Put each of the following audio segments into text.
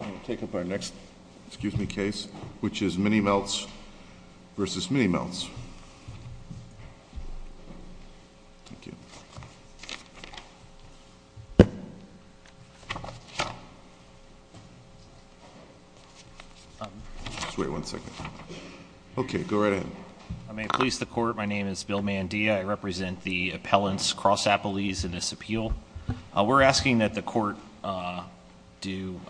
I'm going to take up our next, excuse me, case, which is Minimeltz v. Minimeltz. Thank you. Just wait one second. Okay, go right ahead. I may please the Court. My name is Bill Mandia. I represent the appellants, Cross-Appellees, in this appeal. We're asking that the Court do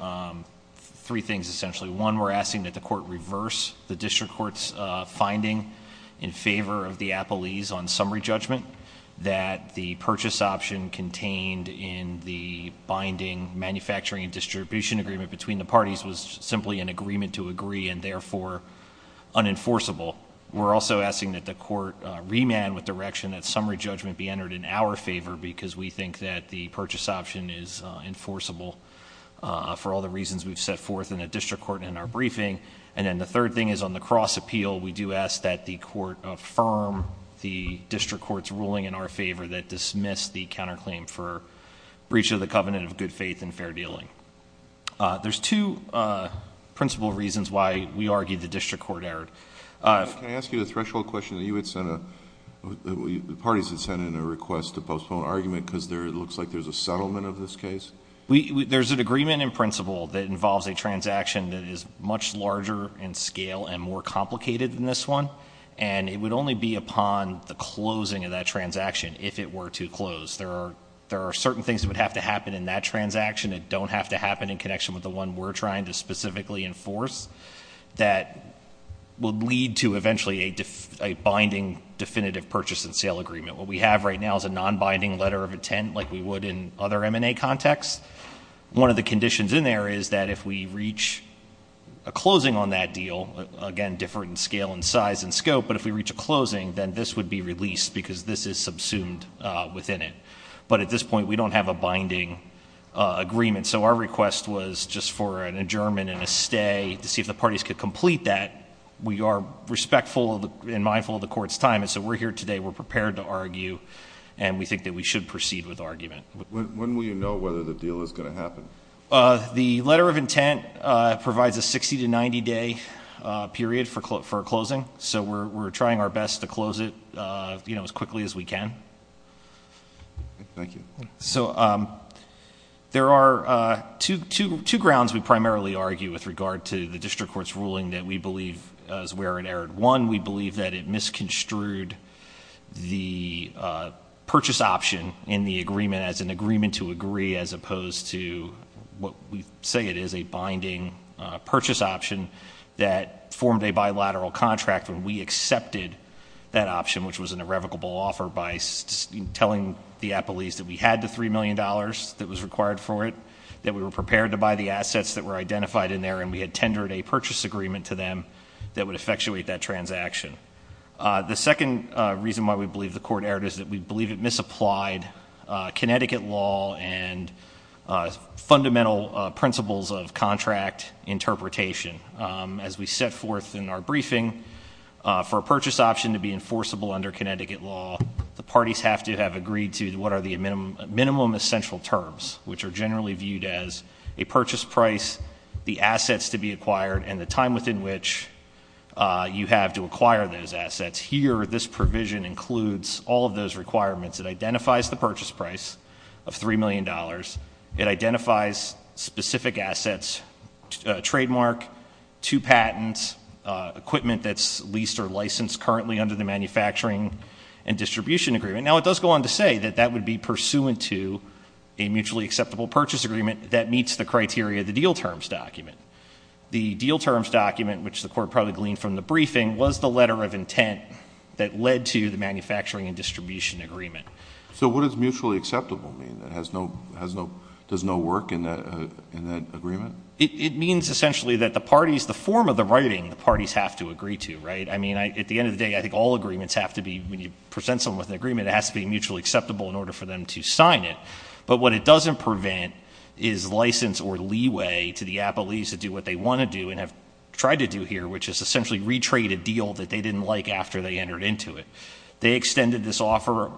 three things, essentially. One, we're asking that the Court reverse the District Court's finding in favor of the appellees on summary judgment that the purchase option contained in the binding manufacturing and distribution agreement between the parties was simply an agreement to agree and, therefore, unenforceable. We're also asking that the Court remand with direction that summary judgment be entered in our favor because we think that the purchase option is enforceable for all the reasons we've set forth in the District Court in our briefing. And then the third thing is on the cross appeal, we do ask that the Court affirm the District Court's ruling in our favor that dismissed the counterclaim for breach of the covenant of good faith and fair dealing. There's two principal reasons why we argue the District Court erred. Can I ask you a threshold question? The parties had sent in a request to postpone argument because it looks like there's a settlement of this case? There's an agreement in principle that involves a transaction that is much larger in scale and more complicated than this one, and it would only be upon the closing of that transaction if it were to close. There are certain things that would have to happen in that transaction that don't have to happen in connection with the one we're trying to specifically enforce that would lead to eventually a binding definitive purchase and sale agreement. What we have right now is a non-binding letter of intent like we would in other M&A contexts. One of the conditions in there is that if we reach a closing on that deal, again, different in scale and size and scope, but if we reach a closing, then this would be released because this is subsumed within it. But at this point, we don't have a binding agreement. So our request was just for an adjournment and a stay to see if the parties could complete that. We are respectful and mindful of the Court's time, and so we're here today. We're prepared to argue, and we think that we should proceed with argument. When will you know whether the deal is going to happen? The letter of intent provides a 60 to 90-day period for closing, so we're trying our best to close it as quickly as we can. Thank you. So there are two grounds we primarily argue with regard to the district court's ruling that we believe is where it erred. One, we believe that it misconstrued the purchase option in the agreement as an agreement to agree as opposed to what we say it is a binding purchase option that formed a bilateral contract when we accepted that option, which was an irrevocable offer by telling the appellees that we had the $3 million that was required for it, that we were prepared to buy the assets that were identified in there, and we had tendered a purchase agreement to them that would effectuate that transaction. The second reason why we believe the court erred is that we believe it misapplied Connecticut law and fundamental principles of contract interpretation. As we set forth in our briefing, for a purchase option to be enforceable under Connecticut law, the parties have to have agreed to what are the minimum essential terms, which are generally viewed as a purchase price, the assets to be acquired, and the time within which you have to acquire those assets. Here, this provision includes all of those requirements. It identifies the purchase price of $3 million. It identifies specific assets, trademark, two patents, equipment that's leased or licensed currently under the manufacturing and distribution agreement. Now, it does go on to say that that would be pursuant to a mutually acceptable purchase agreement that meets the criteria of the deal terms document. The deal terms document, which the court probably gleaned from the briefing, was the letter of intent that led to the manufacturing and distribution agreement. So what does mutually acceptable mean? Does no work in that agreement? It means essentially that the parties, the form of the writing, the parties have to agree to, right? I mean, at the end of the day, I think all agreements have to be, when you present someone with an agreement, it has to be mutually acceptable in order for them to sign it. But what it doesn't prevent is license or leeway to the appellees to do what they want to do and have tried to do here, which is essentially retrade a deal that they didn't like after they entered into it. They extended this offer.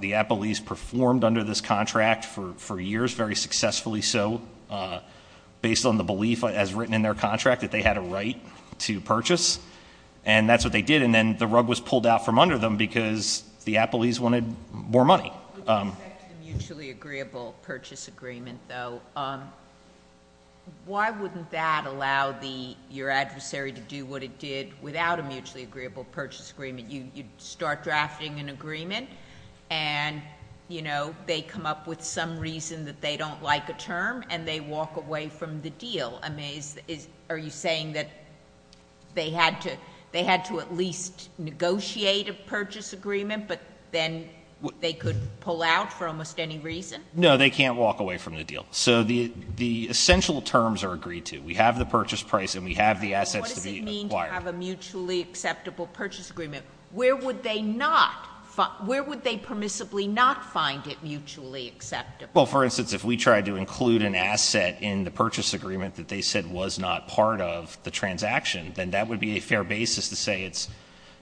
The appellees performed under this contract for years, very successfully so, based on the belief as written in their contract that they had a right to purchase. And that's what they did. And then the rug was pulled out from under them because the appellees wanted more money. With respect to the mutually agreeable purchase agreement, though, why wouldn't that allow your adversary to do what it did without a mutually agreeable purchase agreement? You start drafting an agreement, and, you know, they come up with some reason that they don't like a term, and they walk away from the deal. I mean, are you saying that they had to at least negotiate a purchase agreement, but then they could pull out for almost any reason? No, they can't walk away from the deal. So the essential terms are agreed to. We have the purchase price, and we have the assets to be acquired. If they did not have a mutually acceptable purchase agreement, where would they not, where would they permissibly not find it mutually acceptable? Well, for instance, if we tried to include an asset in the purchase agreement that they said was not part of the transaction, then that would be a fair basis to say it's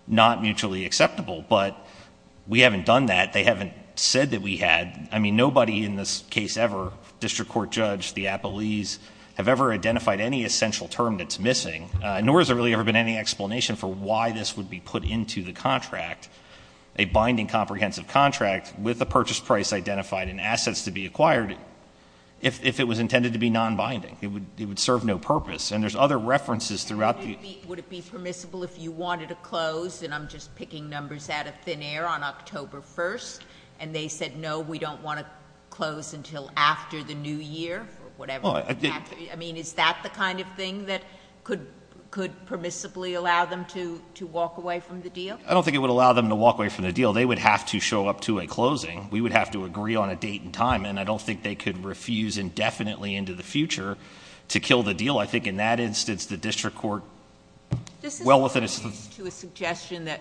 not mutually acceptable. But we haven't done that. They haven't said that we had. I mean, nobody in this case ever, district court judge, the appellees, have ever identified any essential term that's missing, nor has there really ever been any explanation for why this would be put into the contract, a binding comprehensive contract with a purchase price identified and assets to be acquired, if it was intended to be non-binding. It would serve no purpose. And there's other references throughout the ---- Would it be permissible if you wanted to close, and I'm just picking numbers out of thin air, on October 1st, and they said, no, we don't want to close until after the new year or whatever? No. I mean, is that the kind of thing that could permissibly allow them to walk away from the deal? I don't think it would allow them to walk away from the deal. They would have to show up to a closing. We would have to agree on a date and time, and I don't think they could refuse indefinitely into the future to kill the deal. I think in that instance, the district court ---- To a suggestion that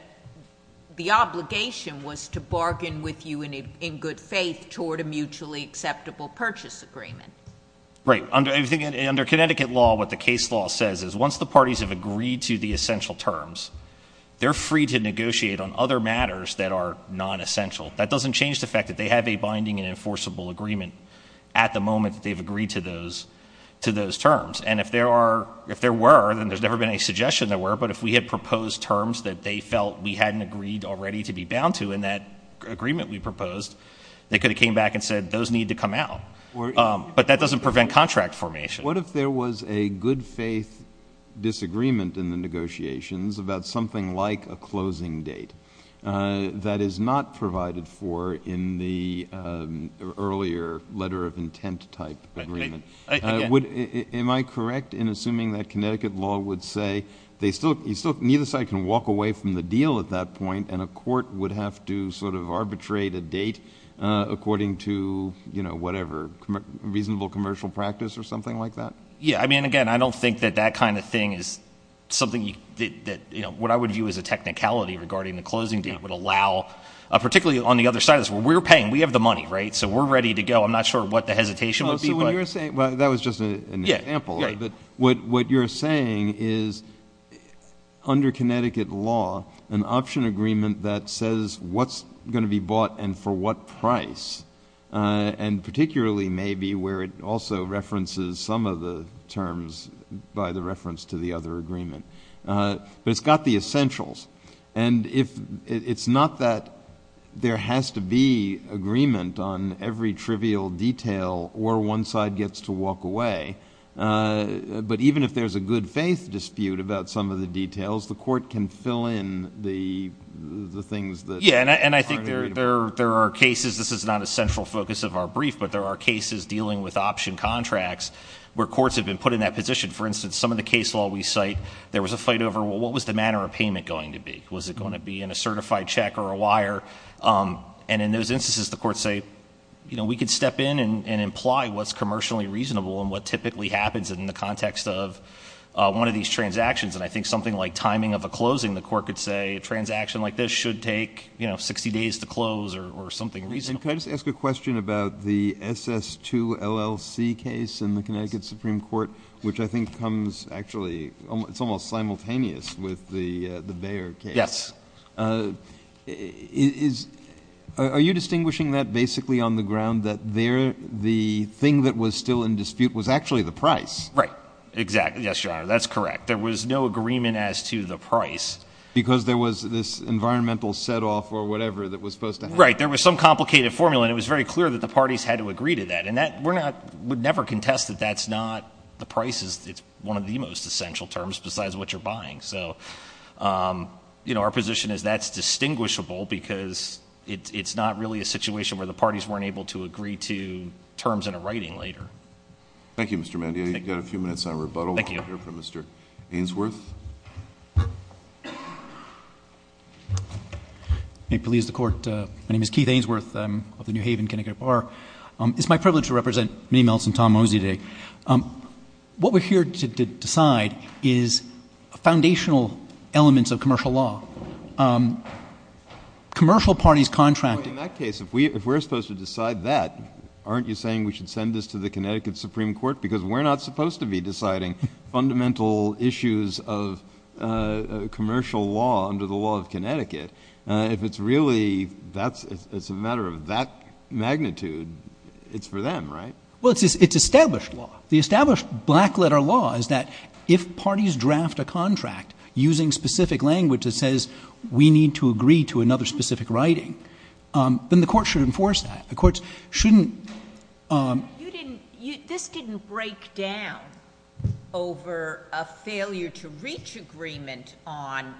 the obligation was to bargain with you in good faith toward a mutually acceptable purchase agreement. Right. Under Connecticut law, what the case law says is once the parties have agreed to the essential terms, they're free to negotiate on other matters that are non-essential. That doesn't change the fact that they have a binding and enforceable agreement at the moment that they've agreed to those terms. And if there were, then there's never been a suggestion there were, but if we had proposed terms that they felt we hadn't agreed already to be bound to in that agreement we proposed, they could have came back and said those need to come out. But that doesn't prevent contract formation. What if there was a good faith disagreement in the negotiations about something like a closing date that is not provided for in the earlier letter of intent type agreement? Am I correct in assuming that Connecticut law would say neither side can walk away from the deal at that point and a court would have to sort of arbitrate a date according to whatever reasonable commercial practice or something like that? Yeah. I mean, again, I don't think that that kind of thing is something that what I would view as a technicality regarding the closing date would allow particularly on the other side of this where we're paying. We have the money, right? So we're ready to go. I'm not sure what the hesitation would be. Well, that was just an example. But what you're saying is under Connecticut law an option agreement that says what's going to be bought and for what price, and particularly maybe where it also references some of the terms by the reference to the other agreement. But it's got the essentials. And it's not that there has to be agreement on every trivial detail or one side gets to walk away. But even if there's a good faith dispute about some of the details, the court can fill in the things that aren't agreeable. Yeah, and I think there are cases, this is not a central focus of our brief, but there are cases dealing with option contracts where courts have been put in that position. For instance, some of the case law we cite, there was a fight over what was the manner of payment going to be? Was it going to be in a certified check or a wire? And in those instances, the courts say, you know, we could step in and imply what's commercially reasonable and what typically happens in the context of one of these transactions. And I think something like timing of a closing, the court could say, a transaction like this should take 60 days to close or something reasonable. And can I just ask a question about the SS2 LLC case in the Connecticut Supreme Court, which I think comes actually, it's almost simultaneous with the Bayer case. Yes. Are you distinguishing that basically on the ground that the thing that was still in dispute was actually the price? Right, exactly. Yes, Your Honor, that's correct. There was no agreement as to the price. Because there was this environmental set off or whatever that was supposed to happen. Right, there was some complicated formula, and it was very clear that the parties had to agree to that. And we would never contest that that's not the price. It's one of the most essential terms besides what you're buying. So, you know, our position is that's distinguishable because it's not really a situation where the parties weren't able to agree to terms in a writing later. Thank you, Mr. Mandia. You've got a few minutes on rebuttal. Thank you. We'll hear from Mr. Ainsworth. May it please the Court. My name is Keith Ainsworth. I'm of the New Haven Connecticut Bar. It's my privilege to represent Minnie Meltz and Tom Mosey today. What we're here to decide is foundational elements of commercial law. Commercial parties contracting. In that case, if we're supposed to decide that, aren't you saying we should send this to the Connecticut Supreme Court? Because we're not supposed to be deciding fundamental issues of commercial law under the law of Connecticut. If it's really a matter of that magnitude, it's for them, right? Well, it's established law. The established black letter law is that if parties draft a contract using specific language that says we need to agree to another specific writing, then the Court should enforce that. This didn't break down over a failure to reach agreement on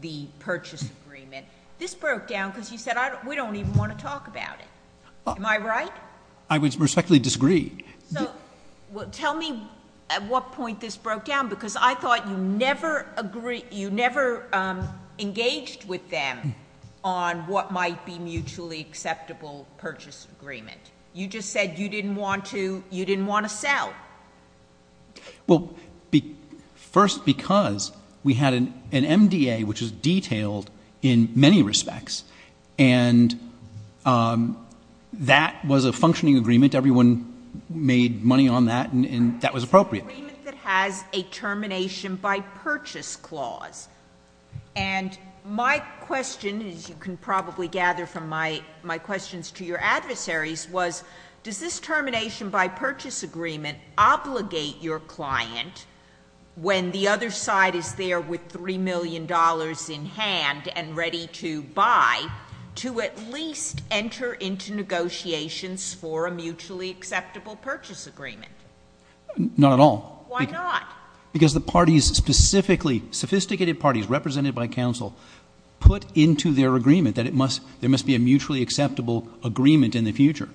the purchase agreement. This broke down because you said we don't even want to talk about it. Am I right? I would respectfully disagree. Tell me at what point this broke down because I thought you never engaged with them on what might be mutually acceptable purchase agreement. You just said you didn't want to sell. Well, first because we had an MDA which was detailed in many respects. And that was a functioning agreement. Everyone made money on that, and that was appropriate. It's an agreement that has a termination by purchase clause. And my question, as you can probably gather from my questions to your adversaries, was does this termination by purchase agreement obligate your client, when the other side is there with $3 million in hand and ready to buy, to at least enter into negotiations for a mutually acceptable purchase agreement? Not at all. Why not? Because the parties specifically, sophisticated parties represented by counsel, put into their agreement that there must be a mutually acceptable agreement in the future.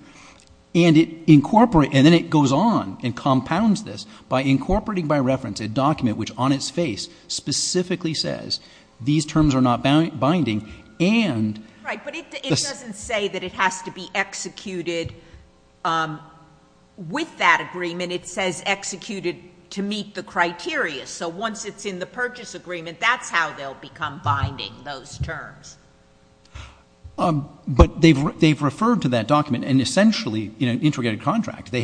And then it goes on and compounds this by incorporating by reference a document which on its face specifically says these terms are not binding and Right, but it doesn't say that it has to be executed with that agreement. It says executed to meet the criteria. So once it's in the purchase agreement, that's how they'll become binding, those terms. But they've referred to that document, and essentially in an integrated contract, they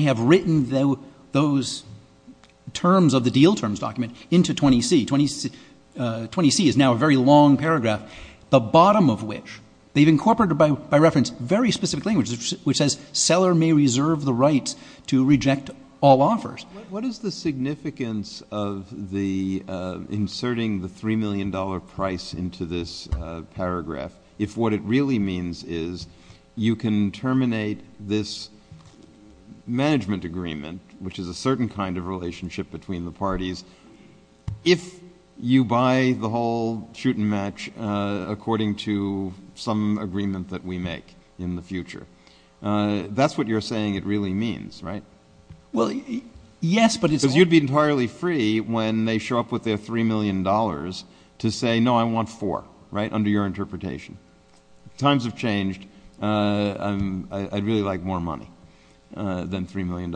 have written those terms of the deal terms document into 20C. 20C is now a very long paragraph, the bottom of which they've incorporated by reference very specific language, which says seller may reserve the rights to reject all offers. What is the significance of the inserting the $3 million price into this paragraph if what it really means is you can terminate this management agreement, which is a certain kind of relationship between the parties, if you buy the whole shoot and match according to some agreement that we make in the future? That's what you're saying it really means, right? Well, yes, but it's— Because you'd be entirely free when they show up with their $3 million to say, no, I want four, right, under your interpretation. Times have changed. I'd really like more money than $3 million.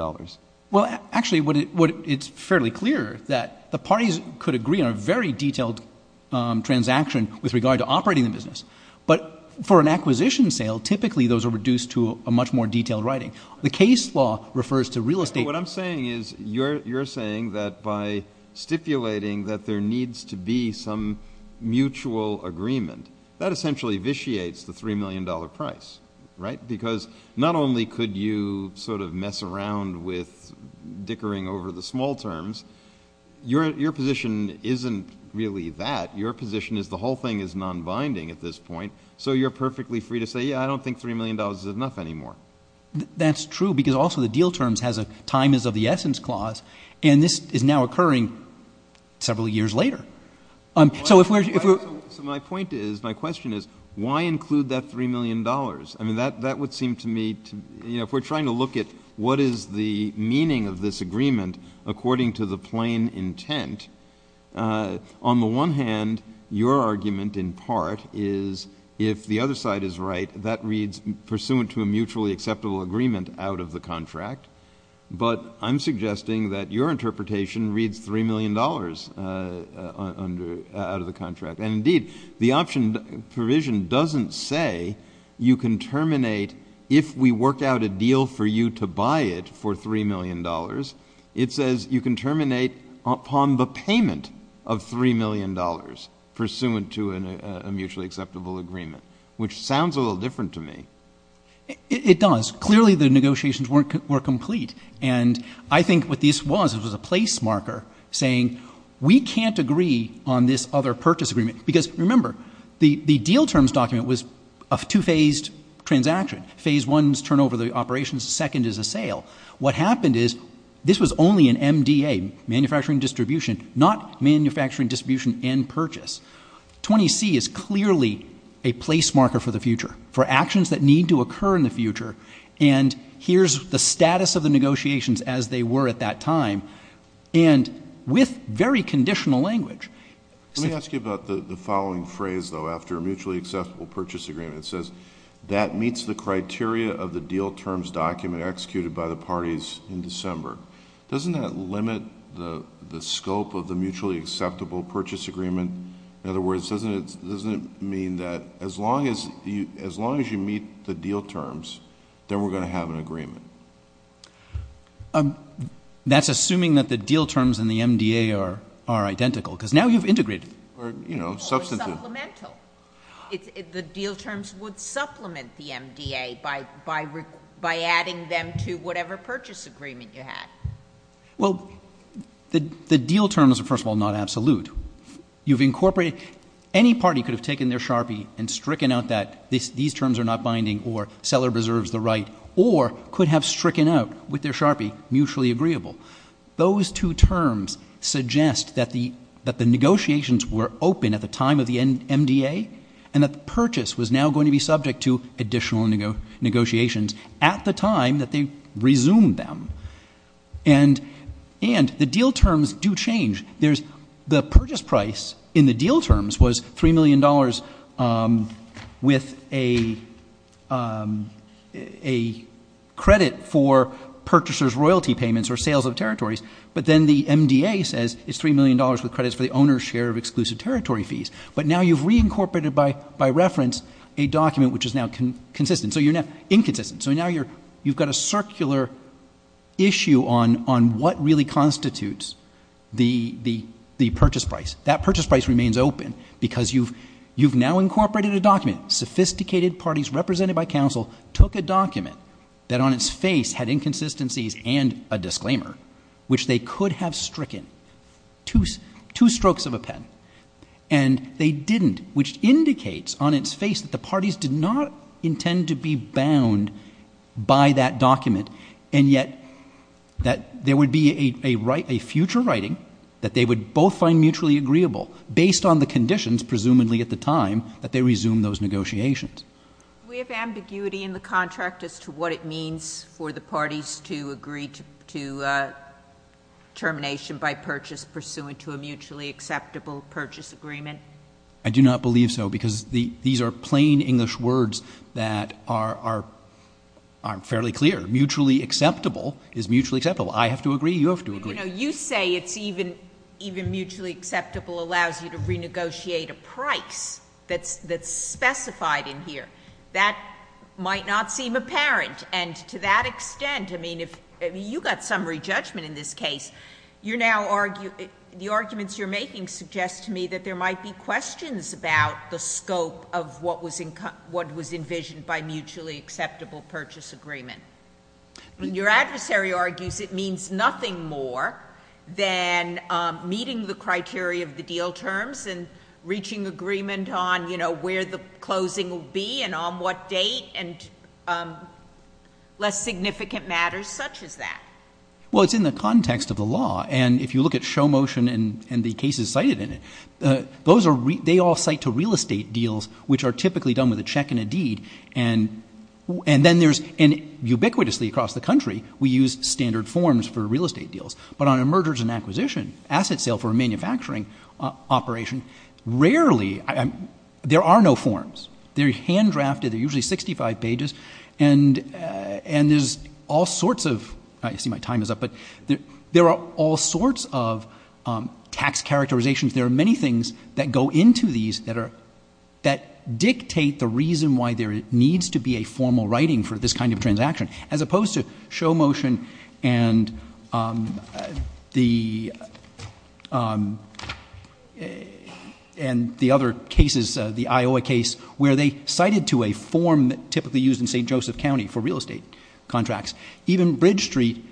Well, actually, it's fairly clear that the parties could agree on a very detailed transaction with regard to operating the business. But for an acquisition sale, typically those are reduced to a much more detailed writing. The case law refers to real estate— What I'm saying is you're saying that by stipulating that there needs to be some mutual agreement, that essentially vitiates the $3 million price, right, because not only could you sort of mess around with dickering over the small terms, your position isn't really that. Your position is the whole thing is nonbinding at this point, so you're perfectly free to say, yeah, I don't think $3 million is enough anymore. That's true because also the deal terms has a time is of the essence clause, and this is now occurring several years later. So if we're— So my point is, my question is, why include that $3 million? I mean, that would seem to me to— If we're trying to look at what is the meaning of this agreement according to the plain intent, on the one hand, your argument in part is if the other side is right, that reads pursuant to a mutually acceptable agreement out of the contract, but I'm suggesting that your interpretation reads $3 million out of the contract. And indeed, the option provision doesn't say you can terminate if we work out a deal for you to buy it for $3 million. It says you can terminate upon the payment of $3 million pursuant to a mutually acceptable agreement, which sounds a little different to me. It does. Clearly, the negotiations were complete, and I think what this was, it was a place marker saying we can't agree on this other purchase agreement because, remember, the deal terms document was a two-phased transaction. Phase one is turnover of the operations. The second is a sale. What happened is this was only an MDA, manufacturing distribution, not manufacturing distribution and purchase. 20C is clearly a place marker for the future, for actions that need to occur in the future, and here's the status of the negotiations as they were at that time, and with very conditional language. Let me ask you about the following phrase, though, after a mutually acceptable purchase agreement. It says that meets the criteria of the deal terms document executed by the parties in December. Doesn't that limit the scope of the mutually acceptable purchase agreement? In other words, doesn't it mean that as long as you meet the deal terms, then we're going to have an agreement? That's assuming that the deal terms and the MDA are identical because now you've integrated. Or supplemental. The deal terms would supplement the MDA by adding them to whatever purchase agreement you had. Well, the deal terms are, first of all, not absolute. You've incorporated. Any party could have taken their sharpie and stricken out that these terms are not binding or seller preserves the right or could have stricken out with their sharpie mutually agreeable. Those two terms suggest that the negotiations were open at the time of the MDA and that the purchase was now going to be subject to additional negotiations at the time that they resumed them. And the deal terms do change. The purchase price in the deal terms was $3 million with a credit for purchasers' royalty payments or sales of territories. But then the MDA says it's $3 million with credits for the owner's share of exclusive territory fees. But now you've reincorporated by reference a document which is now inconsistent. So now you've got a circular issue on what really constitutes the purchase price. That purchase price remains open because you've now incorporated a document. Sophisticated parties represented by counsel took a document that on its face had inconsistencies and a disclaimer, which they could have stricken, two strokes of a pen. And they didn't, which indicates on its face that the parties did not intend to be bound by that document and yet that there would be a future writing that they would both find mutually agreeable based on the conditions presumably at the time that they resumed those negotiations. We have ambiguity in the contract as to what it means for the parties to agree to termination by purchase pursuant to a mutually acceptable purchase agreement. I do not believe so because these are plain English words that are fairly clear. Mutually acceptable is mutually acceptable. I have to agree. You have to agree. You say it's even mutually acceptable allows you to renegotiate a price that's specified in here. That might not seem apparent. And to that extent, I mean, you got summary judgment in this case. The arguments you're making suggest to me that there might be questions about the scope of what was envisioned by mutually acceptable purchase agreement. When your adversary argues it means nothing more than meeting the criteria of the deal terms and reaching agreement on, you know, where the closing will be and on what date and less significant matters such as that. Well, it's in the context of the law. And if you look at show motion and the cases cited in it, they all cite to real estate deals which are typically done with a check and a deed. And then there's ubiquitously across the country we use standard forms for real estate deals. But on a mergers and acquisition, asset sale for a manufacturing operation, rarely there are no forms. They're hand drafted. They're usually 65 pages. And there's all sorts of ‑‑ I see my time is up. But there are all sorts of tax characterizations. There are many things that go into these that dictate the reason why there needs to be a formal writing for this kind of transaction as opposed to show motion and the other cases, the Iowa case, where they cited to a form typically used in St. Joseph County for real estate contracts. Even Bridge Street,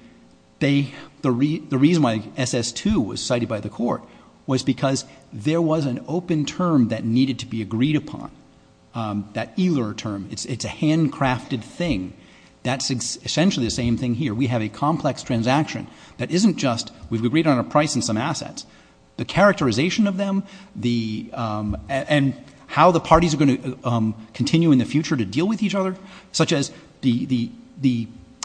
the reason why SS2 was cited by the court was because there was an open term that needed to be agreed upon. That ELR term. It's a handcrafted thing. That's essentially the same thing here. We have a complex transaction that isn't just we've agreed on a price and some assets. The characterization of them and how the parties are going to continue in the future to deal with each other, such as the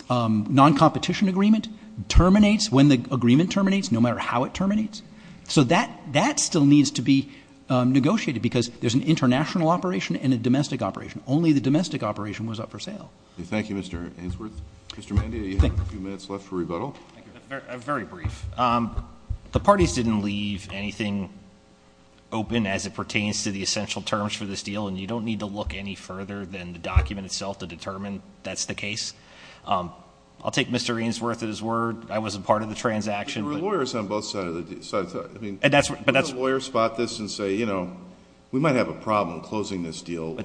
noncompetition agreement terminates when the agreement terminates, no matter how it terminates. So that still needs to be negotiated because there's an international operation and a domestic operation. Only the domestic operation was up for sale. Thank you, Mr. Ainsworth. Mr. Mandia, you have a few minutes left for rebuttal. Very brief. The parties didn't leave anything open as it pertains to the essential terms for this deal, and you don't need to look any further than the document itself to determine that's the case. I'll take Mr. Ainsworth at his word. I wasn't part of the transaction. There were lawyers on both sides. Would a lawyer spot this and say, you know, we might have a problem closing this deal?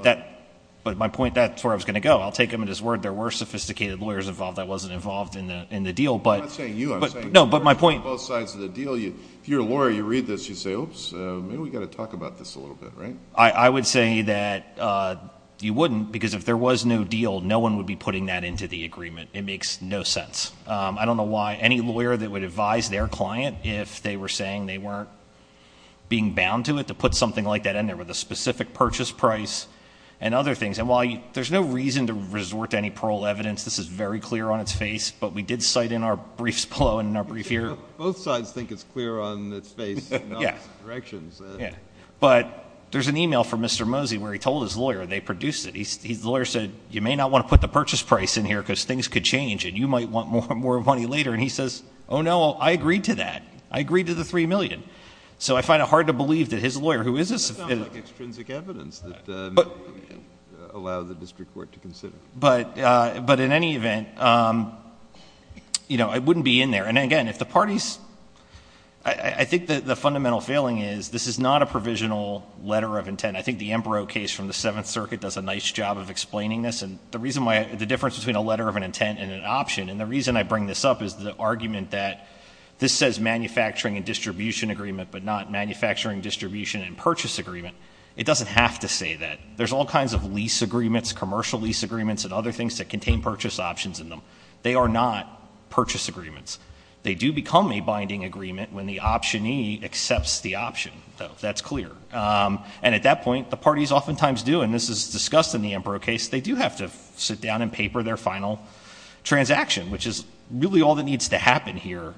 But my point, that's where I was going to go. I'll take him at his word. There were sophisticated lawyers involved. I wasn't involved in the deal. I'm not saying you. I'm saying lawyers on both sides of the deal. If you're a lawyer, you read this, you say, oops, maybe we've got to talk about this a little bit, right? I would say that you wouldn't because if there was no deal, no one would be putting that into the agreement. It makes no sense. I don't know why any lawyer that would advise their client if they were saying they weren't being bound to it to put something like that in there with a specific purchase price and other things. And while there's no reason to resort to any parole evidence, this is very clear on its face, but we did cite in our briefs below and in our brief here. Both sides think it's clear on its face, not its directions. But there's an email from Mr. Mosey where he told his lawyer, and they produced it. The lawyer said, you may not want to put the purchase price in here because things could change and you might want more money later. And he says, oh, no, I agreed to that. I agreed to the $3 million. So I find it hard to believe that his lawyer, who is a – That sounds like extrinsic evidence that would allow the district court to consider. But in any event, it wouldn't be in there. And, again, if the parties – I think the fundamental failing is this is not a provisional letter of intent. I think the Ambrose case from the Seventh Circuit does a nice job of explaining this. And the reason why – the difference between a letter of an intent and an option, and the reason I bring this up is the argument that this says manufacturing and distribution agreement but not manufacturing, distribution, and purchase agreement. It doesn't have to say that. There's all kinds of lease agreements, commercial lease agreements, and other things that contain purchase options in them. They are not purchase agreements. They do become a binding agreement when the optionee accepts the option. That's clear. And at that point, the parties oftentimes do, and this is discussed in the Ambrose case, they do have to sit down and paper their final transaction, which is really all that needs to happen here.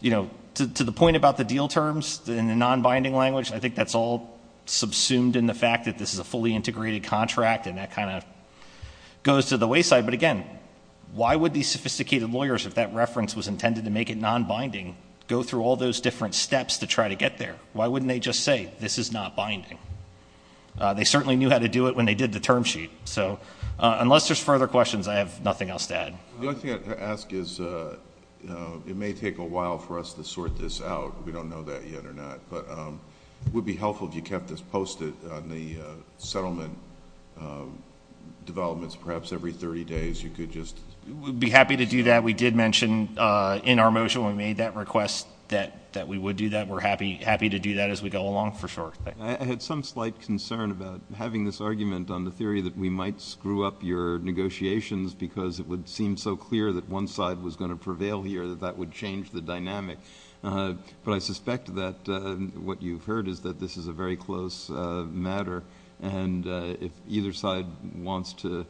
You know, to the point about the deal terms in the non-binding language, I think that's all subsumed in the fact that this is a fully integrated contract, and that kind of goes to the wayside. But, again, why would these sophisticated lawyers, if that reference was intended to make it non-binding, go through all those different steps to try to get there? Why wouldn't they just say this is not binding? They certainly knew how to do it when they did the term sheet. So unless there's further questions, I have nothing else to add. The only thing I'd ask is it may take a while for us to sort this out. We don't know that yet or not. But it would be helpful if you kept us posted on the settlement developments. Perhaps every 30 days you could just ---- We'd be happy to do that. We did mention in our motion when we made that request that we would do that. We're happy to do that as we go along, for sure. I had some slight concern about having this argument on the theory that we might screw up your negotiations because it would seem so clear that one side was going to prevail here that that would change the dynamic. But I suspect that what you've heard is that this is a very close matter, and if either side wants to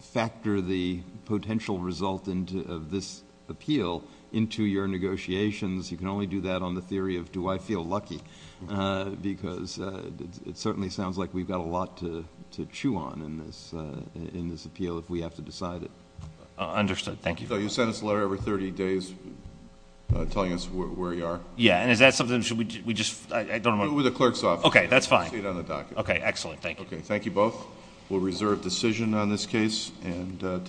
factor the potential result of this appeal into your negotiations, you can only do that on the theory of do I feel lucky because it certainly sounds like we've got a lot to chew on in this appeal if we have to decide it. Understood. Thank you. So you sent us a letter every 30 days telling us where we are? Yeah. And is that something we should just ---- We're the clerk's office. Okay. That's fine. It's on the docket. Okay. Excellent. Thank you. Okay. Thank you both. We'll reserve decision on this case. And thank you.